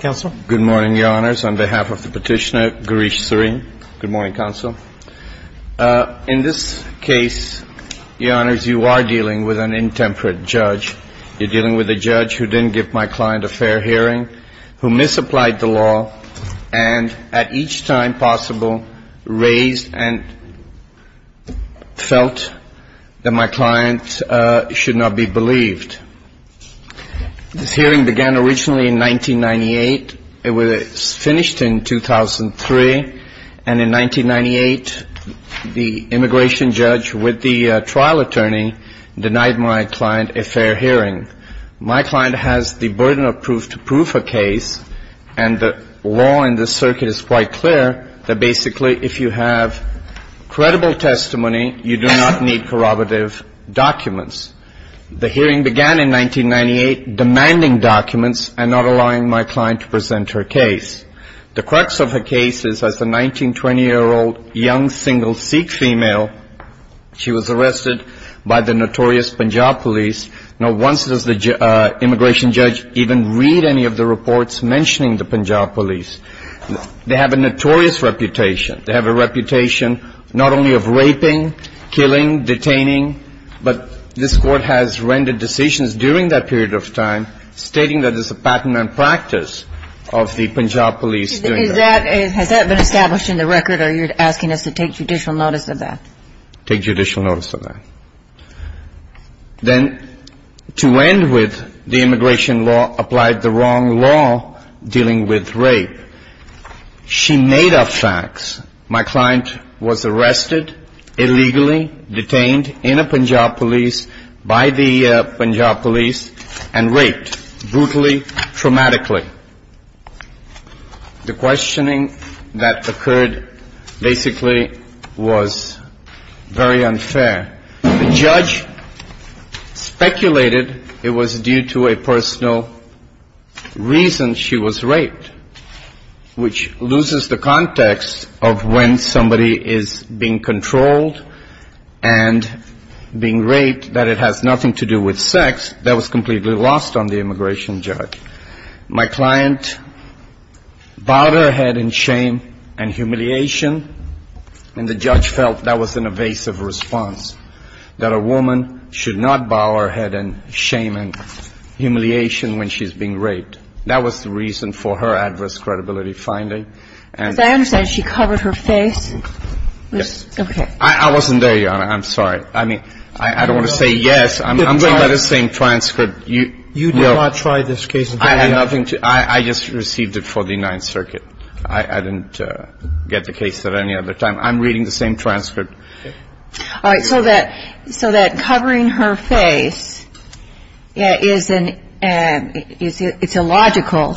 Good morning, Your Honors. On behalf of the petitioner, Girish Srin, good morning, Counsel. In this case, Your Honors, you are dealing with an intemperate judge. You're dealing with a judge who didn't give my client a fair hearing, who misapplied the law, and at each time possible raised and felt that my client should not be believed. This hearing began originally in 1998. It was finished in 2003, and in 1998, the immigration judge with the trial attorney denied my client a fair hearing. My client has the burden of proof to prove a case, and the law in this circuit is quite clear that basically if you have credible testimony, you do not need corroborative documents. The hearing began in 1998, demanding documents and not allowing my client to present her case. The crux of her case is as a 1920-year-old young single Sikh female, she was arrested by the notorious Punjab police. Now, once does the immigration judge even read any of the reports mentioning the Punjab police? They have a notorious reputation. They have a reputation not only of raping, killing, detaining, but this Court has rendered decisions during that period of time stating that it's a pattern and practice of the Punjab police doing that. Has that been established in the record, or you're asking us to take judicial notice of that? Take judicial notice of that. Then to end with, the immigration law applied the wrong law dealing with rape. She made up facts. My client was arrested, illegally detained in a Punjab police, by the Punjab police, and raped, brutally, traumatically. The questioning that occurred basically was very unfair. The judge speculated it was due to a personal reason she was raped, which loses the context of when somebody is being controlled and being raped that it has nothing to do with sex. That was completely lost on the immigration judge. My client bowed her head in shame and humiliation, and the judge felt that was an evasive response, that a woman should not bow her head in shame and humiliation when she's being raped. That was the reason for her adverse credibility finding. As I understand, she covered her face. Yes. Okay. I wasn't there, Your Honor. I'm sorry. I mean, I don't want to say yes. I'm going by the same transcript. You did not try this case. I had nothing to do. I just received it for the Ninth Circuit. I didn't get the case at any other time. I'm reading the same transcript. All right. So that covering her face, it's illogical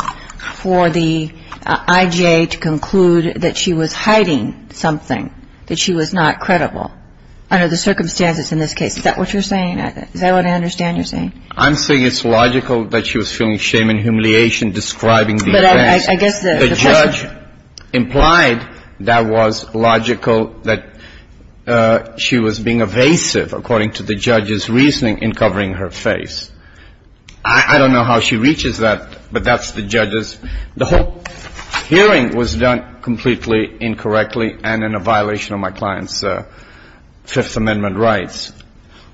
for the I.J. to conclude that she was hiding something, that she was not credible under the circumstances in this case. Is that what you're saying? Is that what I understand you're saying? I'm saying it's logical that she was feeling shame and humiliation describing the events. But I guess the question implied that was logical that she was being evasive, according to the judge's reasoning, in covering her face. I don't know how she reaches that, but that's the judge's. The whole hearing was done completely incorrectly and in a violation of my client's Fifth Amendment rights.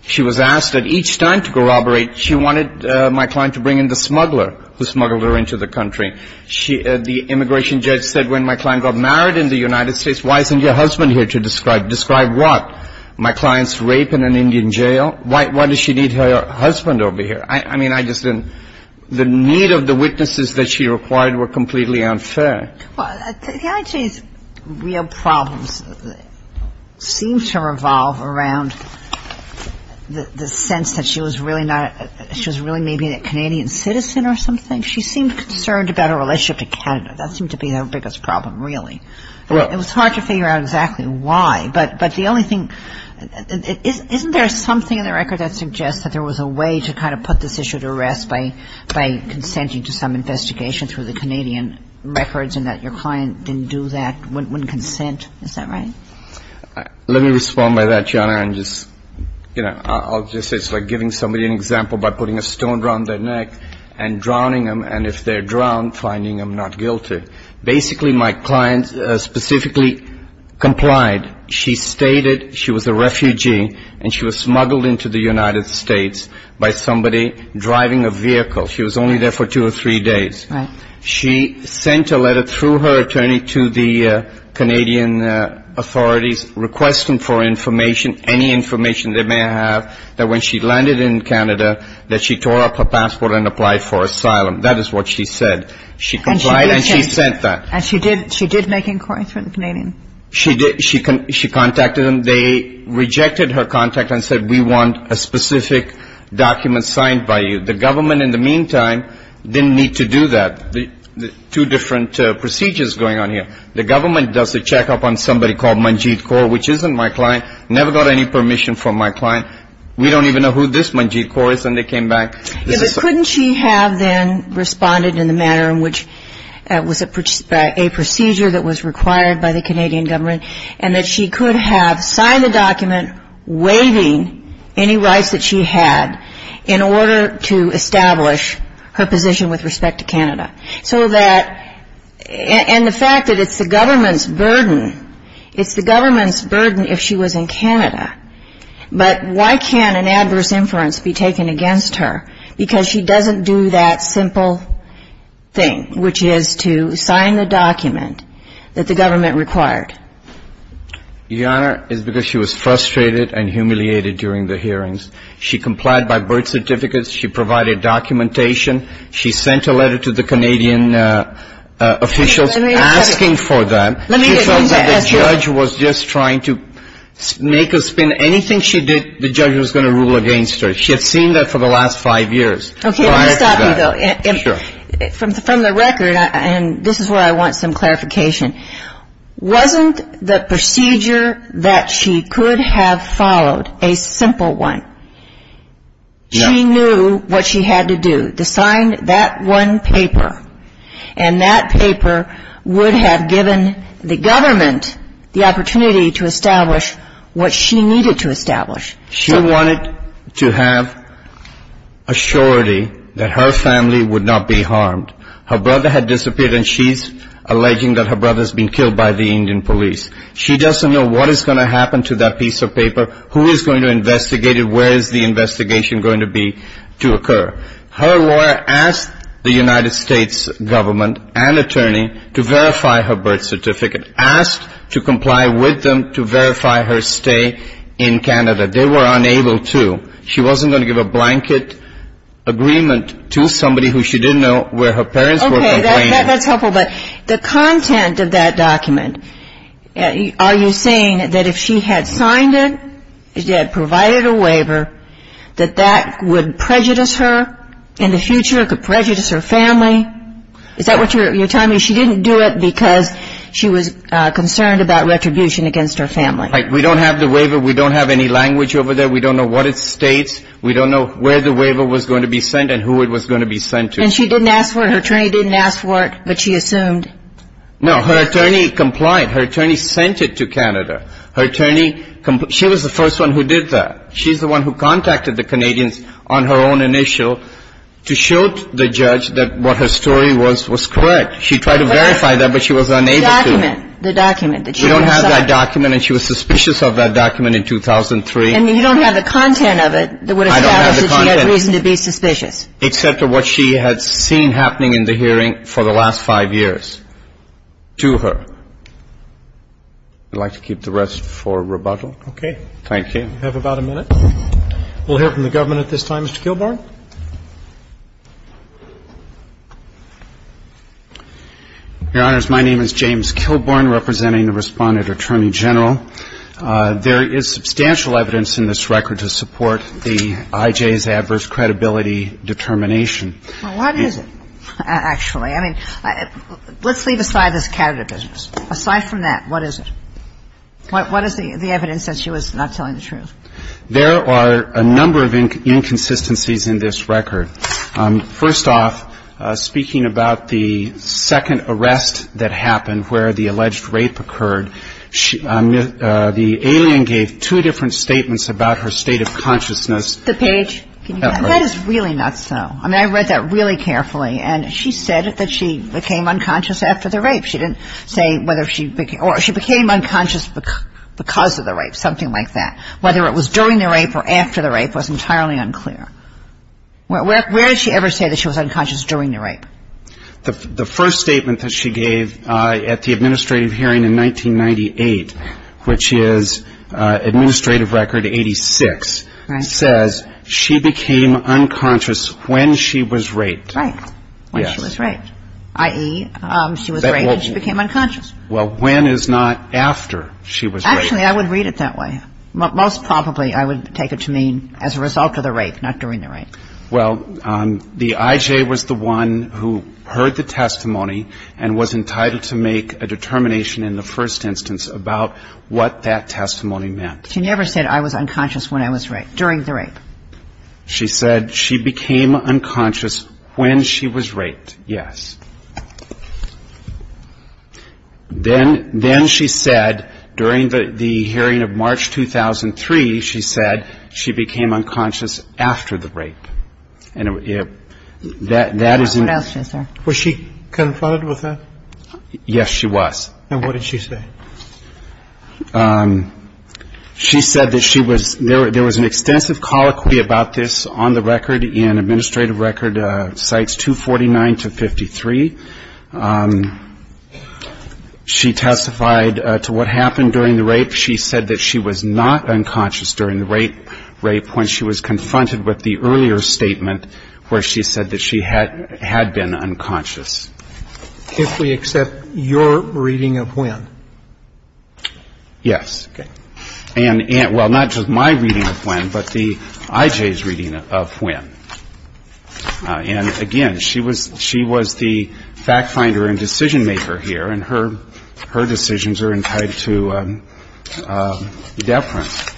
She was asked at each time to corroborate. She wanted my client to bring in the smuggler who smuggled her into the country. The immigration judge said when my client got married in the United States, why isn't your husband here to describe? Describe what? My client's rape in an Indian jail? Why does she need her husband over here? I mean, I just didn't – the need of the witnesses that she required were completely unfair. Well, the I.J.'s real problems seem to revolve around the sense that she was really not – she was really maybe a Canadian citizen or something. She seemed concerned about her relationship to Canada. That seemed to be her biggest problem, really. Well – It was hard to figure out exactly why. But the only thing – isn't there something in the record that suggests that there was a way to kind of put this issue to rest by consenting to some investigation through the Canadian records and that your client didn't do that, wouldn't consent? Is that right? Let me respond by that, Joanna, and just – I'll just say it's like giving somebody an example by putting a stone around their neck and drowning them, and if they're drowned, finding them not guilty. Basically, my client specifically complied. She stated she was a refugee and she was smuggled into the United States by somebody driving a vehicle. She was only there for two or three days. She sent a letter through her attorney to the Canadian authorities requesting for information, any information they may have, that when she landed in Canada that she tore up her passport and applied for asylum. That is what she said. She complied and she sent that. And she did make inquiries through the Canadian? She contacted them. They rejected her contact and said, we want a specific document signed by you. The government, in the meantime, didn't need to do that. Two different procedures going on here. The government does a check-up on somebody called Manjeet Kaur, which isn't my client, never got any permission from my client. We don't even know who this Manjeet Kaur is, and they came back. Couldn't she have then responded in the manner in which it was a procedure that was required by the Canadian government and that she could have signed the document waiving any rights that she had in order to establish her position with respect to Canada? So that, and the fact that it's the government's burden, it's the government's burden if she was in Canada. But why can't an adverse inference be taken against her? Because she doesn't do that simple thing, which is to sign the document that the government required. Your Honor, it's because she was frustrated and humiliated during the hearings. She complied by birth certificates. She provided documentation. She sent a letter to the Canadian officials asking for that. Let me just interrupt you. She felt that the judge was just trying to make a spin. Anything she did, the judge was going to rule against her. She had seen that for the last five years prior to that. From the record, and this is where I want some clarification, wasn't the procedure that she could have followed a simple one? She knew what she had to do, to sign that one paper. And that paper would have given the government the opportunity to establish what she needed to establish. She wanted to have a surety that her family would not be harmed. Her brother had disappeared and she's alleging that her brother's been killed by the Indian police. She doesn't know what is going to happen to that piece of paper, who is going to investigate it, where is the investigation going to be, to occur. Her lawyer asked the United States government and attorney to verify her birth certificate, asked to She wasn't going to give a blanket agreement to somebody who she didn't know where her parents were complaining. Okay, that's helpful, but the content of that document, are you saying that if she had signed it, provided a waiver, that that would prejudice her in the future, could prejudice her family? Is that what you're telling me? She didn't do it because she was concerned about retribution against her family? We don't have the waiver. We don't have any language over there. We don't know what it states. We don't know where the waiver was going to be sent and who it was going to be sent to. And she didn't ask for it? Her attorney didn't ask for it, but she assumed? No, her attorney complied. Her attorney sent it to Canada. Her attorney, she was the first one who did that. She's the one who contacted the Canadians on her own initial to show the judge that what her story was, was correct. She tried to verify that, but she was unable to. The document, the document that she had signed. We don't have that document, and she was suspicious of that document in 2003. And you don't have the content of it that would establish that she had reason to be suspicious? I don't have the content, except for what she had seen happening in the hearing for the last five years to her. I'd like to keep the rest for rebuttal. Okay. Thank you. We have about a minute. We'll hear from the government at this time. Mr. Kilbourn. Your Honors, my name is James Kilbourn, representing the Respondent Attorney General. There is substantial evidence in this record to support the IJ's adverse credibility determination. Well, what is it, actually? I mean, let's leave aside this Canada business. Aside from that, what is it? What is the evidence that she was not telling the truth? There are a number of inconsistencies in this record. First off, speaking about the second arrest that happened where the alleged rape occurred, the alien gave two different statements about her state of consciousness. The page. That is really not so. I mean, I read that really carefully, and she said that she became unconscious after the rape. She didn't say whether she became unconscious because of the rape, something like that. Whether it was during the rape or after the rape was entirely unclear. Where did she ever say that she was unconscious during the rape? The first statement that she gave at the administrative hearing in 1998, which is Administrative Record 86, says she became unconscious when she was raped. When she was raped, i.e., she was raped and she became unconscious. Well, when is not after she was raped. Actually, I would read it that way. Most probably, I would take it to mean as a result of the rape, not during the rape. Well, the IJ was the one who heard the testimony and was entitled to make a determination in the first instance about what that testimony meant. She never said, I was unconscious when I was raped, during the rape. She said she became unconscious when she was raped, yes. Then she said, during the hearing of March 2003, she said she became unconscious after the rape. Was she confronted with that? Yes, she was. And what did she say? She said that she was, there was an extensive colloquy about this on the record in Administrative Record Cites 249 to 53. She testified to what happened during the rape. She said that she was not unconscious during the rape when she was confronted with the earlier statement where she said that she had been unconscious. If we accept your reading of when? Yes. Okay. And, well, not just my reading of when, but the IJ's reading of when. And, again, she was the fact finder and decision maker here, and her decisions are entitled to be defined.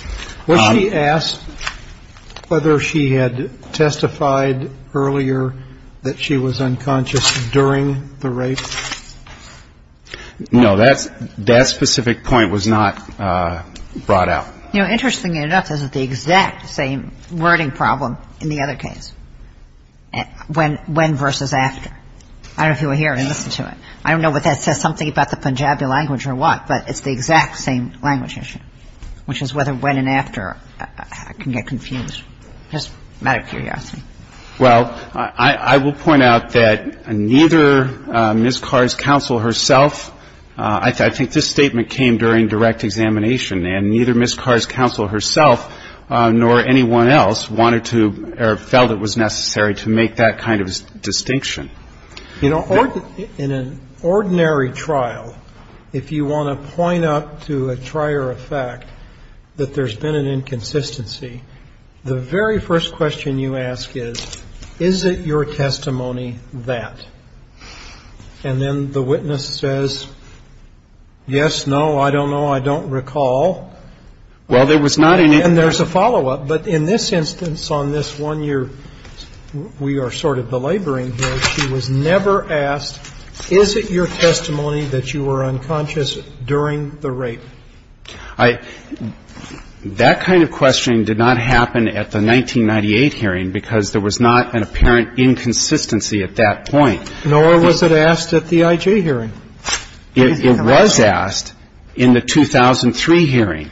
Was she asked whether she had testified earlier that she was unconscious during the rape? No, that specific point was not brought out. You know, interestingly enough, this is the exact same wording problem in the other case, when versus after. I don't know if you were here and listened to it. I don't know if that says something about the Punjabi language or what, but it's the exact same language issue, which is whether when and after can get confused. Just out of curiosity. Well, I will point out that neither Ms. Carr's counsel herself, I think this statement came during direct examination, and neither Ms. Carr's counsel herself nor anyone else wanted to or felt it was necessary to make that kind of distinction. You know, in an ordinary trial, if you want to point up to a trier of fact that there's been an inconsistency, the very first question you ask is, is it your testimony that? And then the witness says, yes, no, I don't know, I don't recall. Well, there was not any. And there's a follow-up. But in this instance, on this one year, we are sort of belaboring here, she was never asked, is it your testimony that you were unconscious during the rape? I – that kind of questioning did not happen at the 1998 hearing because there was not an apparent inconsistency at that point. Nor was it asked at the I.G. hearing. It was asked in the 2003 hearing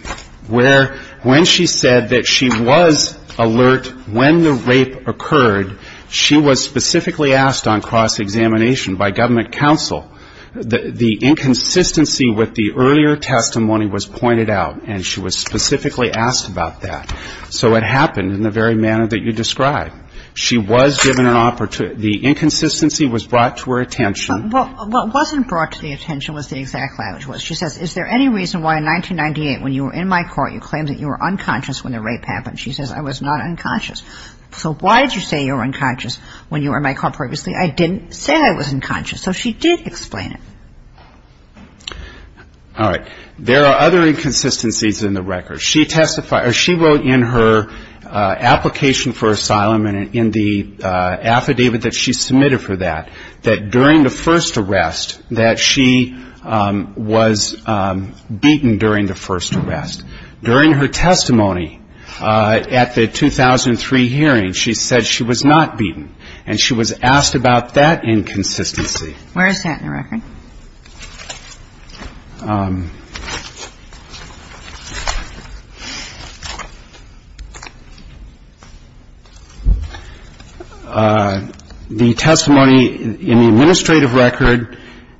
where, when she said that she was alert when the rape occurred, she was specifically asked on cross-examination by government counsel, the inconsistency with the earlier testimony was pointed out, and she was specifically asked about that. So it happened in the very manner that you described. She was given an opportunity. The inconsistency was brought to her attention. Well, what wasn't brought to the attention was the exact language was. She says, is there any reason why in 1998 when you were in my court you claimed that you were unconscious when the rape happened? She says, I was not unconscious. So why did you say you were unconscious when you were in my court previously? I didn't say I was unconscious. So she did explain it. All right. There are other inconsistencies in the record. She testified – or she wrote in her application for asylum and in the affidavit that she submitted for that, that during the first arrest that she was beaten during the first arrest. During her testimony at the 2003 hearing, she said she was not beaten. And she was asked about that inconsistency. Where is that in the record? The testimony in the administrative record,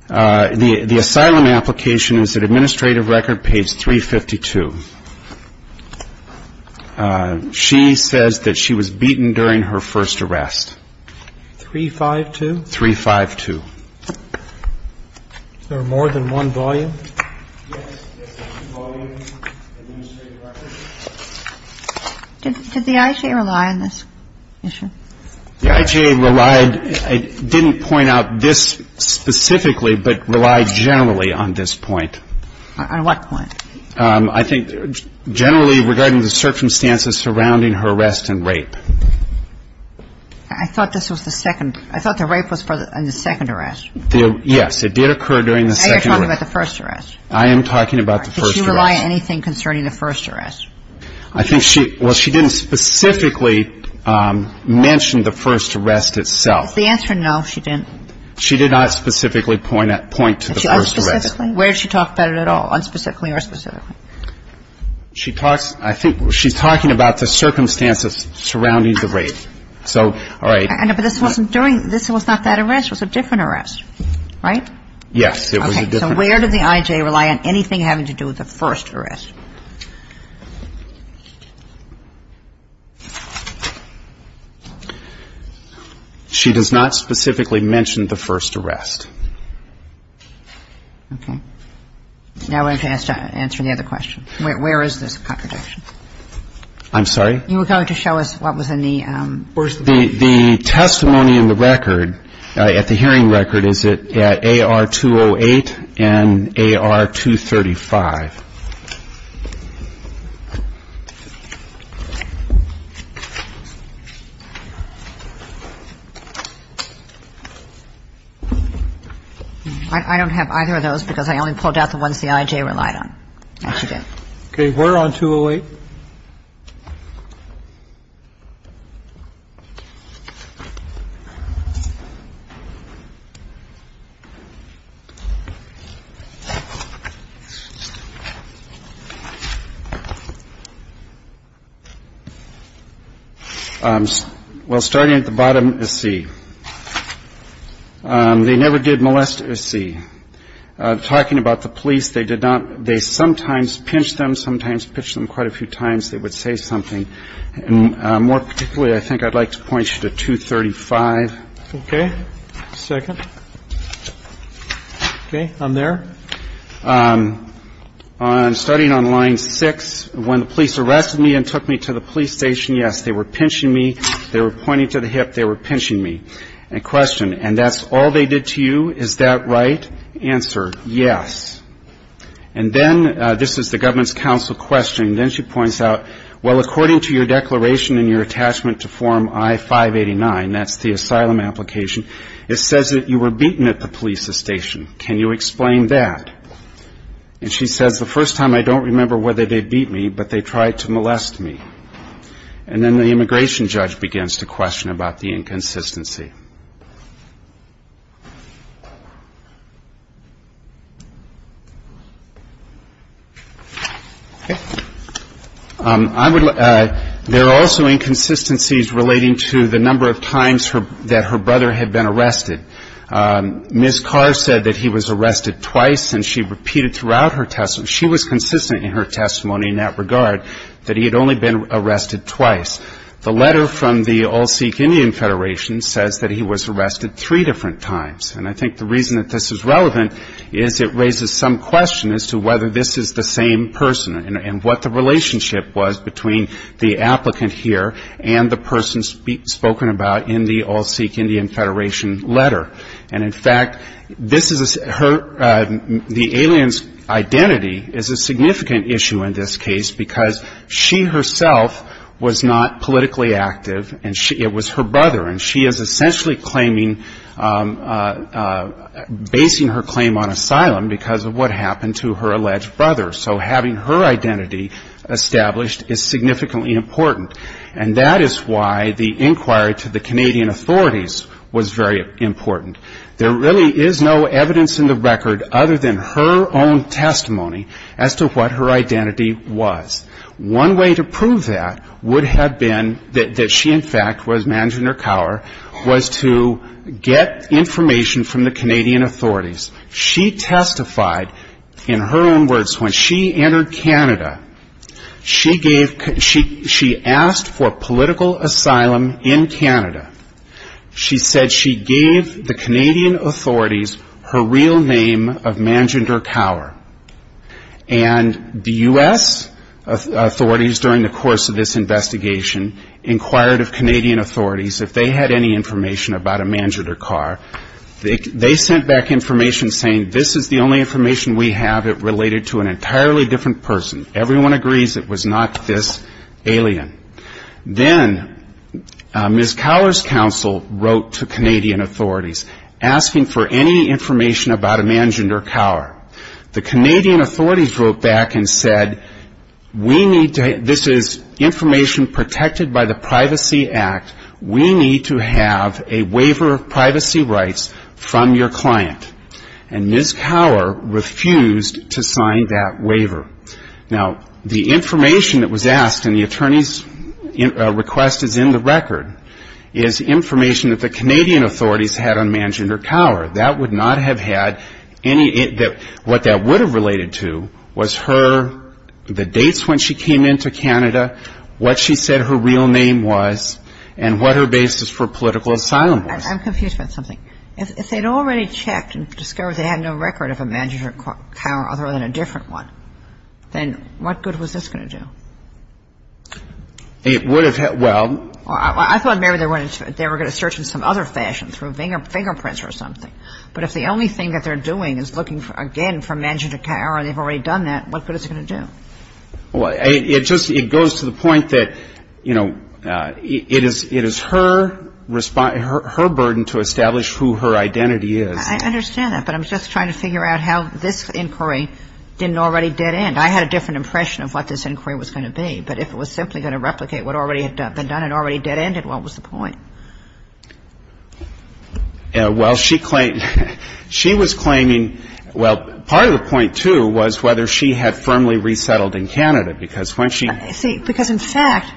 the asylum application is at administrative record page 352. She says that she was beaten during her first arrest. 352? 352. Is there more than one volume? Did the IJA rely on this issue? The IJA relied – didn't point out this specifically, but relied generally on this point. On what point? I think generally regarding the circumstances surrounding her arrest and rape. I thought this was the second – I thought the rape was in the second arrest. Yes. It did occur during the second – Now you're talking about the first arrest. I am talking about the first arrest. Did she rely on anything concerning the first arrest? I think she – well, she didn't specifically mention the first arrest itself. Is the answer no, she didn't? She did not specifically point to the first arrest. Unspecifically? Where did she talk about it at all, unspecifically or specifically? She talks – I think she's talking about the circumstances surrounding the rape. So, all right. No, but this wasn't during – this was not that arrest. It was a different arrest, right? Yes, it was a different arrest. Okay. So where did the IJA rely on anything having to do with the first arrest? She does not specifically mention the first arrest. Okay. Now we have to answer the other question. Where is this contradiction? I'm sorry? You were going to show us what was in the – The testimony in the record, at the hearing record, is at AR-208 and AR-235. I don't have either of those because I only pulled out the ones the IJA relied on. Okay. We're on 208. Thank you. Well, starting at the bottom is C. They never did molest C. Talking about the police, they did not – they sometimes pinched them, sometimes pitched them quite a few times. They would say something. More particularly, I think I'd like to point you to 235. Okay. Second. Okay. I'm there. Starting on line six, when the police arrested me and took me to the police station, yes, they were pinching me. They were pointing to the hip. They were pinching me. And question, and that's all they did to you? Is that right? Answer, yes. And then this is the government's counsel questioning. Then she points out, well, according to your declaration and your attachment to Form I-589, that's the asylum application, it says that you were beaten at the police station. Can you explain that? And she says, the first time I don't remember whether they beat me, but they tried to molest me. And then the immigration judge begins to question about the inconsistency. There are also inconsistencies relating to the number of times that her brother had been arrested. Ms. Carr said that he was arrested twice, and she repeated throughout her testimony, she was consistent in her testimony in that regard, that he had only been arrested twice. The letter from the All Sikh Indian Federation says that he was arrested three different times. And I think the reason that this is relevant is it raises some question as to whether this is the same person and what the relationship was between the applicant here and the person spoken about in the All Sikh Indian Federation letter. And in fact, this is her, the alien's identity is a significant issue in this case because she herself was not politically active, and it was her brother. And she is essentially claiming, basing her claim on asylum because of what happened to her alleged brother. So having her identity established is significantly important. And that is why the inquiry to the Canadian authorities was very important. There really is no evidence in the record other than her own testimony as to what her identity was. One way to prove that would have been that she in fact was Manjinder Kaur, was to get information from the Canadian authorities. She testified in her own words. When she entered Canada, she asked for political asylum in Canada. She said she gave the Canadian authorities her real name of Manjinder Kaur. And the U.S. authorities during the course of this investigation inquired of Canadian authorities if they had any information about a Manjinder Kaur. They sent back information saying this is the only information we have related to an entirely different person. Everyone agrees it was not this alien. Then Ms. Kaur's counsel wrote to Canadian authorities asking for any information about a Manjinder Kaur. The Canadian authorities wrote back and said we need to, this is information protected by the Privacy Act. We need to have a waiver of privacy rights from your client. And Ms. Kaur refused to sign that waiver. Now, the information that was asked in the attorney's request is in the record, is information that the Canadian authorities had on Manjinder Kaur. That would not have had any, what that would have related to was her, the dates when she came into Canada, what she said her real name was, and what her basis for political asylum was. I'm confused about something. If they had already checked and discovered they had no record of a Manjinder Kaur other than a different one, then what good was this going to do? It would have, well. I thought maybe they were going to search in some other fashion, through fingerprints or something. But if the only thing that they're doing is looking, again, for Manjinder Kaur and they've already done that, what good is it going to do? Well, it just, it goes to the point that, you know, it is her response, her burden to establish who her identity is. I understand that, but I'm just trying to figure out how this inquiry didn't already dead end. I had a different impression of what this inquiry was going to be. But if it was simply going to replicate what already had been done and already dead ended, what was the point? Well, she claimed, she was claiming, well, part of the point, too, was whether she had firmly resettled in Canada, because when she. Because, in fact,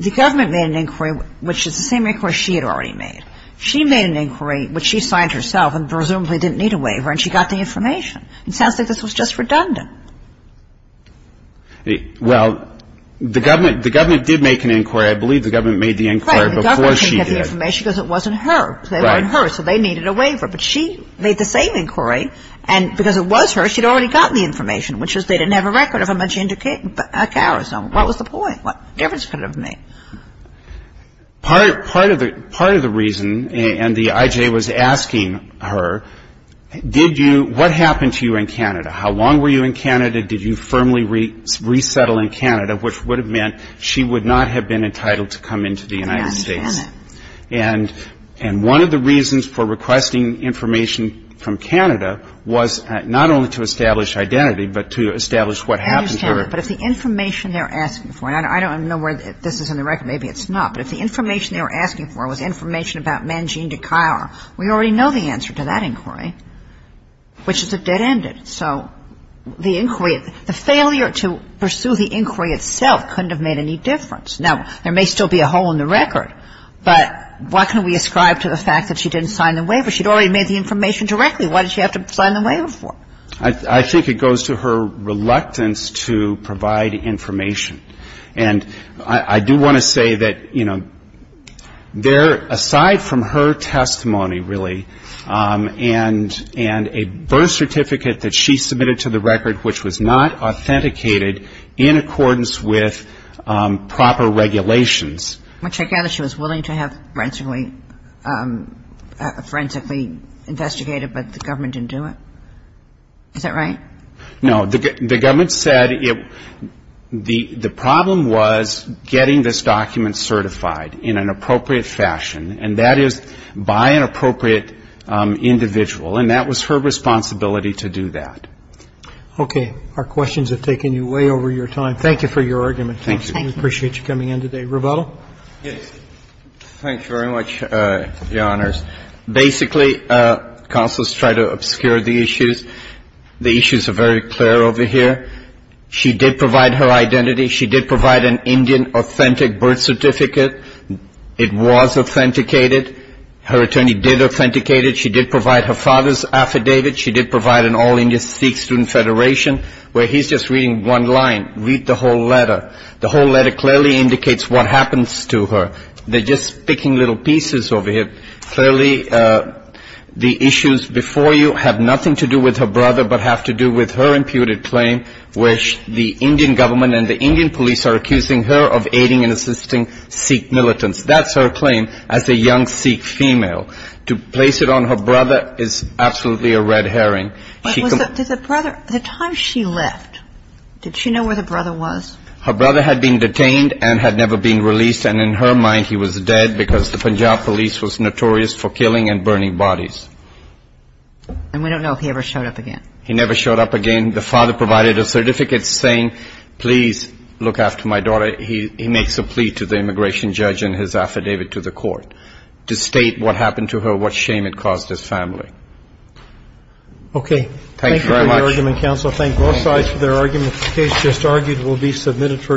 the government made an inquiry, which is the same inquiry she had already made. She made an inquiry, which she signed herself and presumably didn't need a waiver, and she got the information. It sounds like this was just redundant. Well, the government did make an inquiry. I believe the government made the inquiry before she did. Right. The government didn't get the information because it wasn't her. Right. They weren't her, so they needed a waiver. But she made the same inquiry, and because it was her, she'd already gotten the information, which was they didn't have a record of Manjinder Kaur or someone. What was the point? What difference could it have made? Part of the reason, and the I.J. was asking her, did you – what happened to you in Canada? How long were you in Canada? Did you firmly resettle in Canada, which would have meant she would not have been entitled to come into the United States. I understand that. And one of the reasons for requesting information from Canada was not only to establish identity, but to establish what happened to her. I understand that. But if the information they're asking for – and I don't know where this is in the record. Maybe it's not. But if the information they were asking for was information about Manjinder Kaur, we already know the answer to that inquiry, which is it dead-ended. So the inquiry – the failure to pursue the inquiry itself couldn't have made any difference. Now, there may still be a hole in the record, but what can we ascribe to the fact that she didn't sign the waiver? She'd already made the information directly. Why did she have to sign the waiver for? I think it goes to her reluctance to provide information. And I do want to say that, you know, aside from her testimony, really, and a birth certificate that she submitted to the record which was not authenticated in accordance with proper regulations. Which I gather she was willing to have forensically investigated, but the government didn't do it. Is that right? No. The government said the problem was getting this document certified in an appropriate fashion, and that is by an appropriate individual. And that was her responsibility to do that. Okay. Our questions have taken you way over your time. Thank you for your argument. Thank you. We appreciate you coming in today. Rebuttal? Yes. Thank you very much, Your Honors. Basically, counsel has tried to obscure the issues. The issues are very clear over here. She did provide her identity. She did provide an Indian authentic birth certificate. It was authenticated. Her attorney did authenticate it. She did provide her father's affidavit. She did provide an all-Indian Sikh Student Federation, where he's just reading one line. Read the whole letter. The whole letter clearly indicates what happens to her. They're just picking little pieces over here. Clearly, the issues before you have nothing to do with her brother, but have to do with her imputed claim where the Indian government and the Indian police are accusing her of aiding and assisting Sikh militants. That's her claim as a young Sikh female. To place it on her brother is absolutely a red herring. But was the brother, the time she left, did she know where the brother was? Her brother had been detained and had never been released, and in her mind he was dead because the Punjab police was notorious for killing and burning bodies. And we don't know if he ever showed up again. He never showed up again. The father provided a certificate saying, please look after my daughter. He makes a plea to the immigration judge and his affidavit to the court to state what happened to her, what shame it caused his family. Okay. Thank you very much. Thank you for your argument, counsel. Thank both sides for their arguments. The case just argued will be submitted for decision.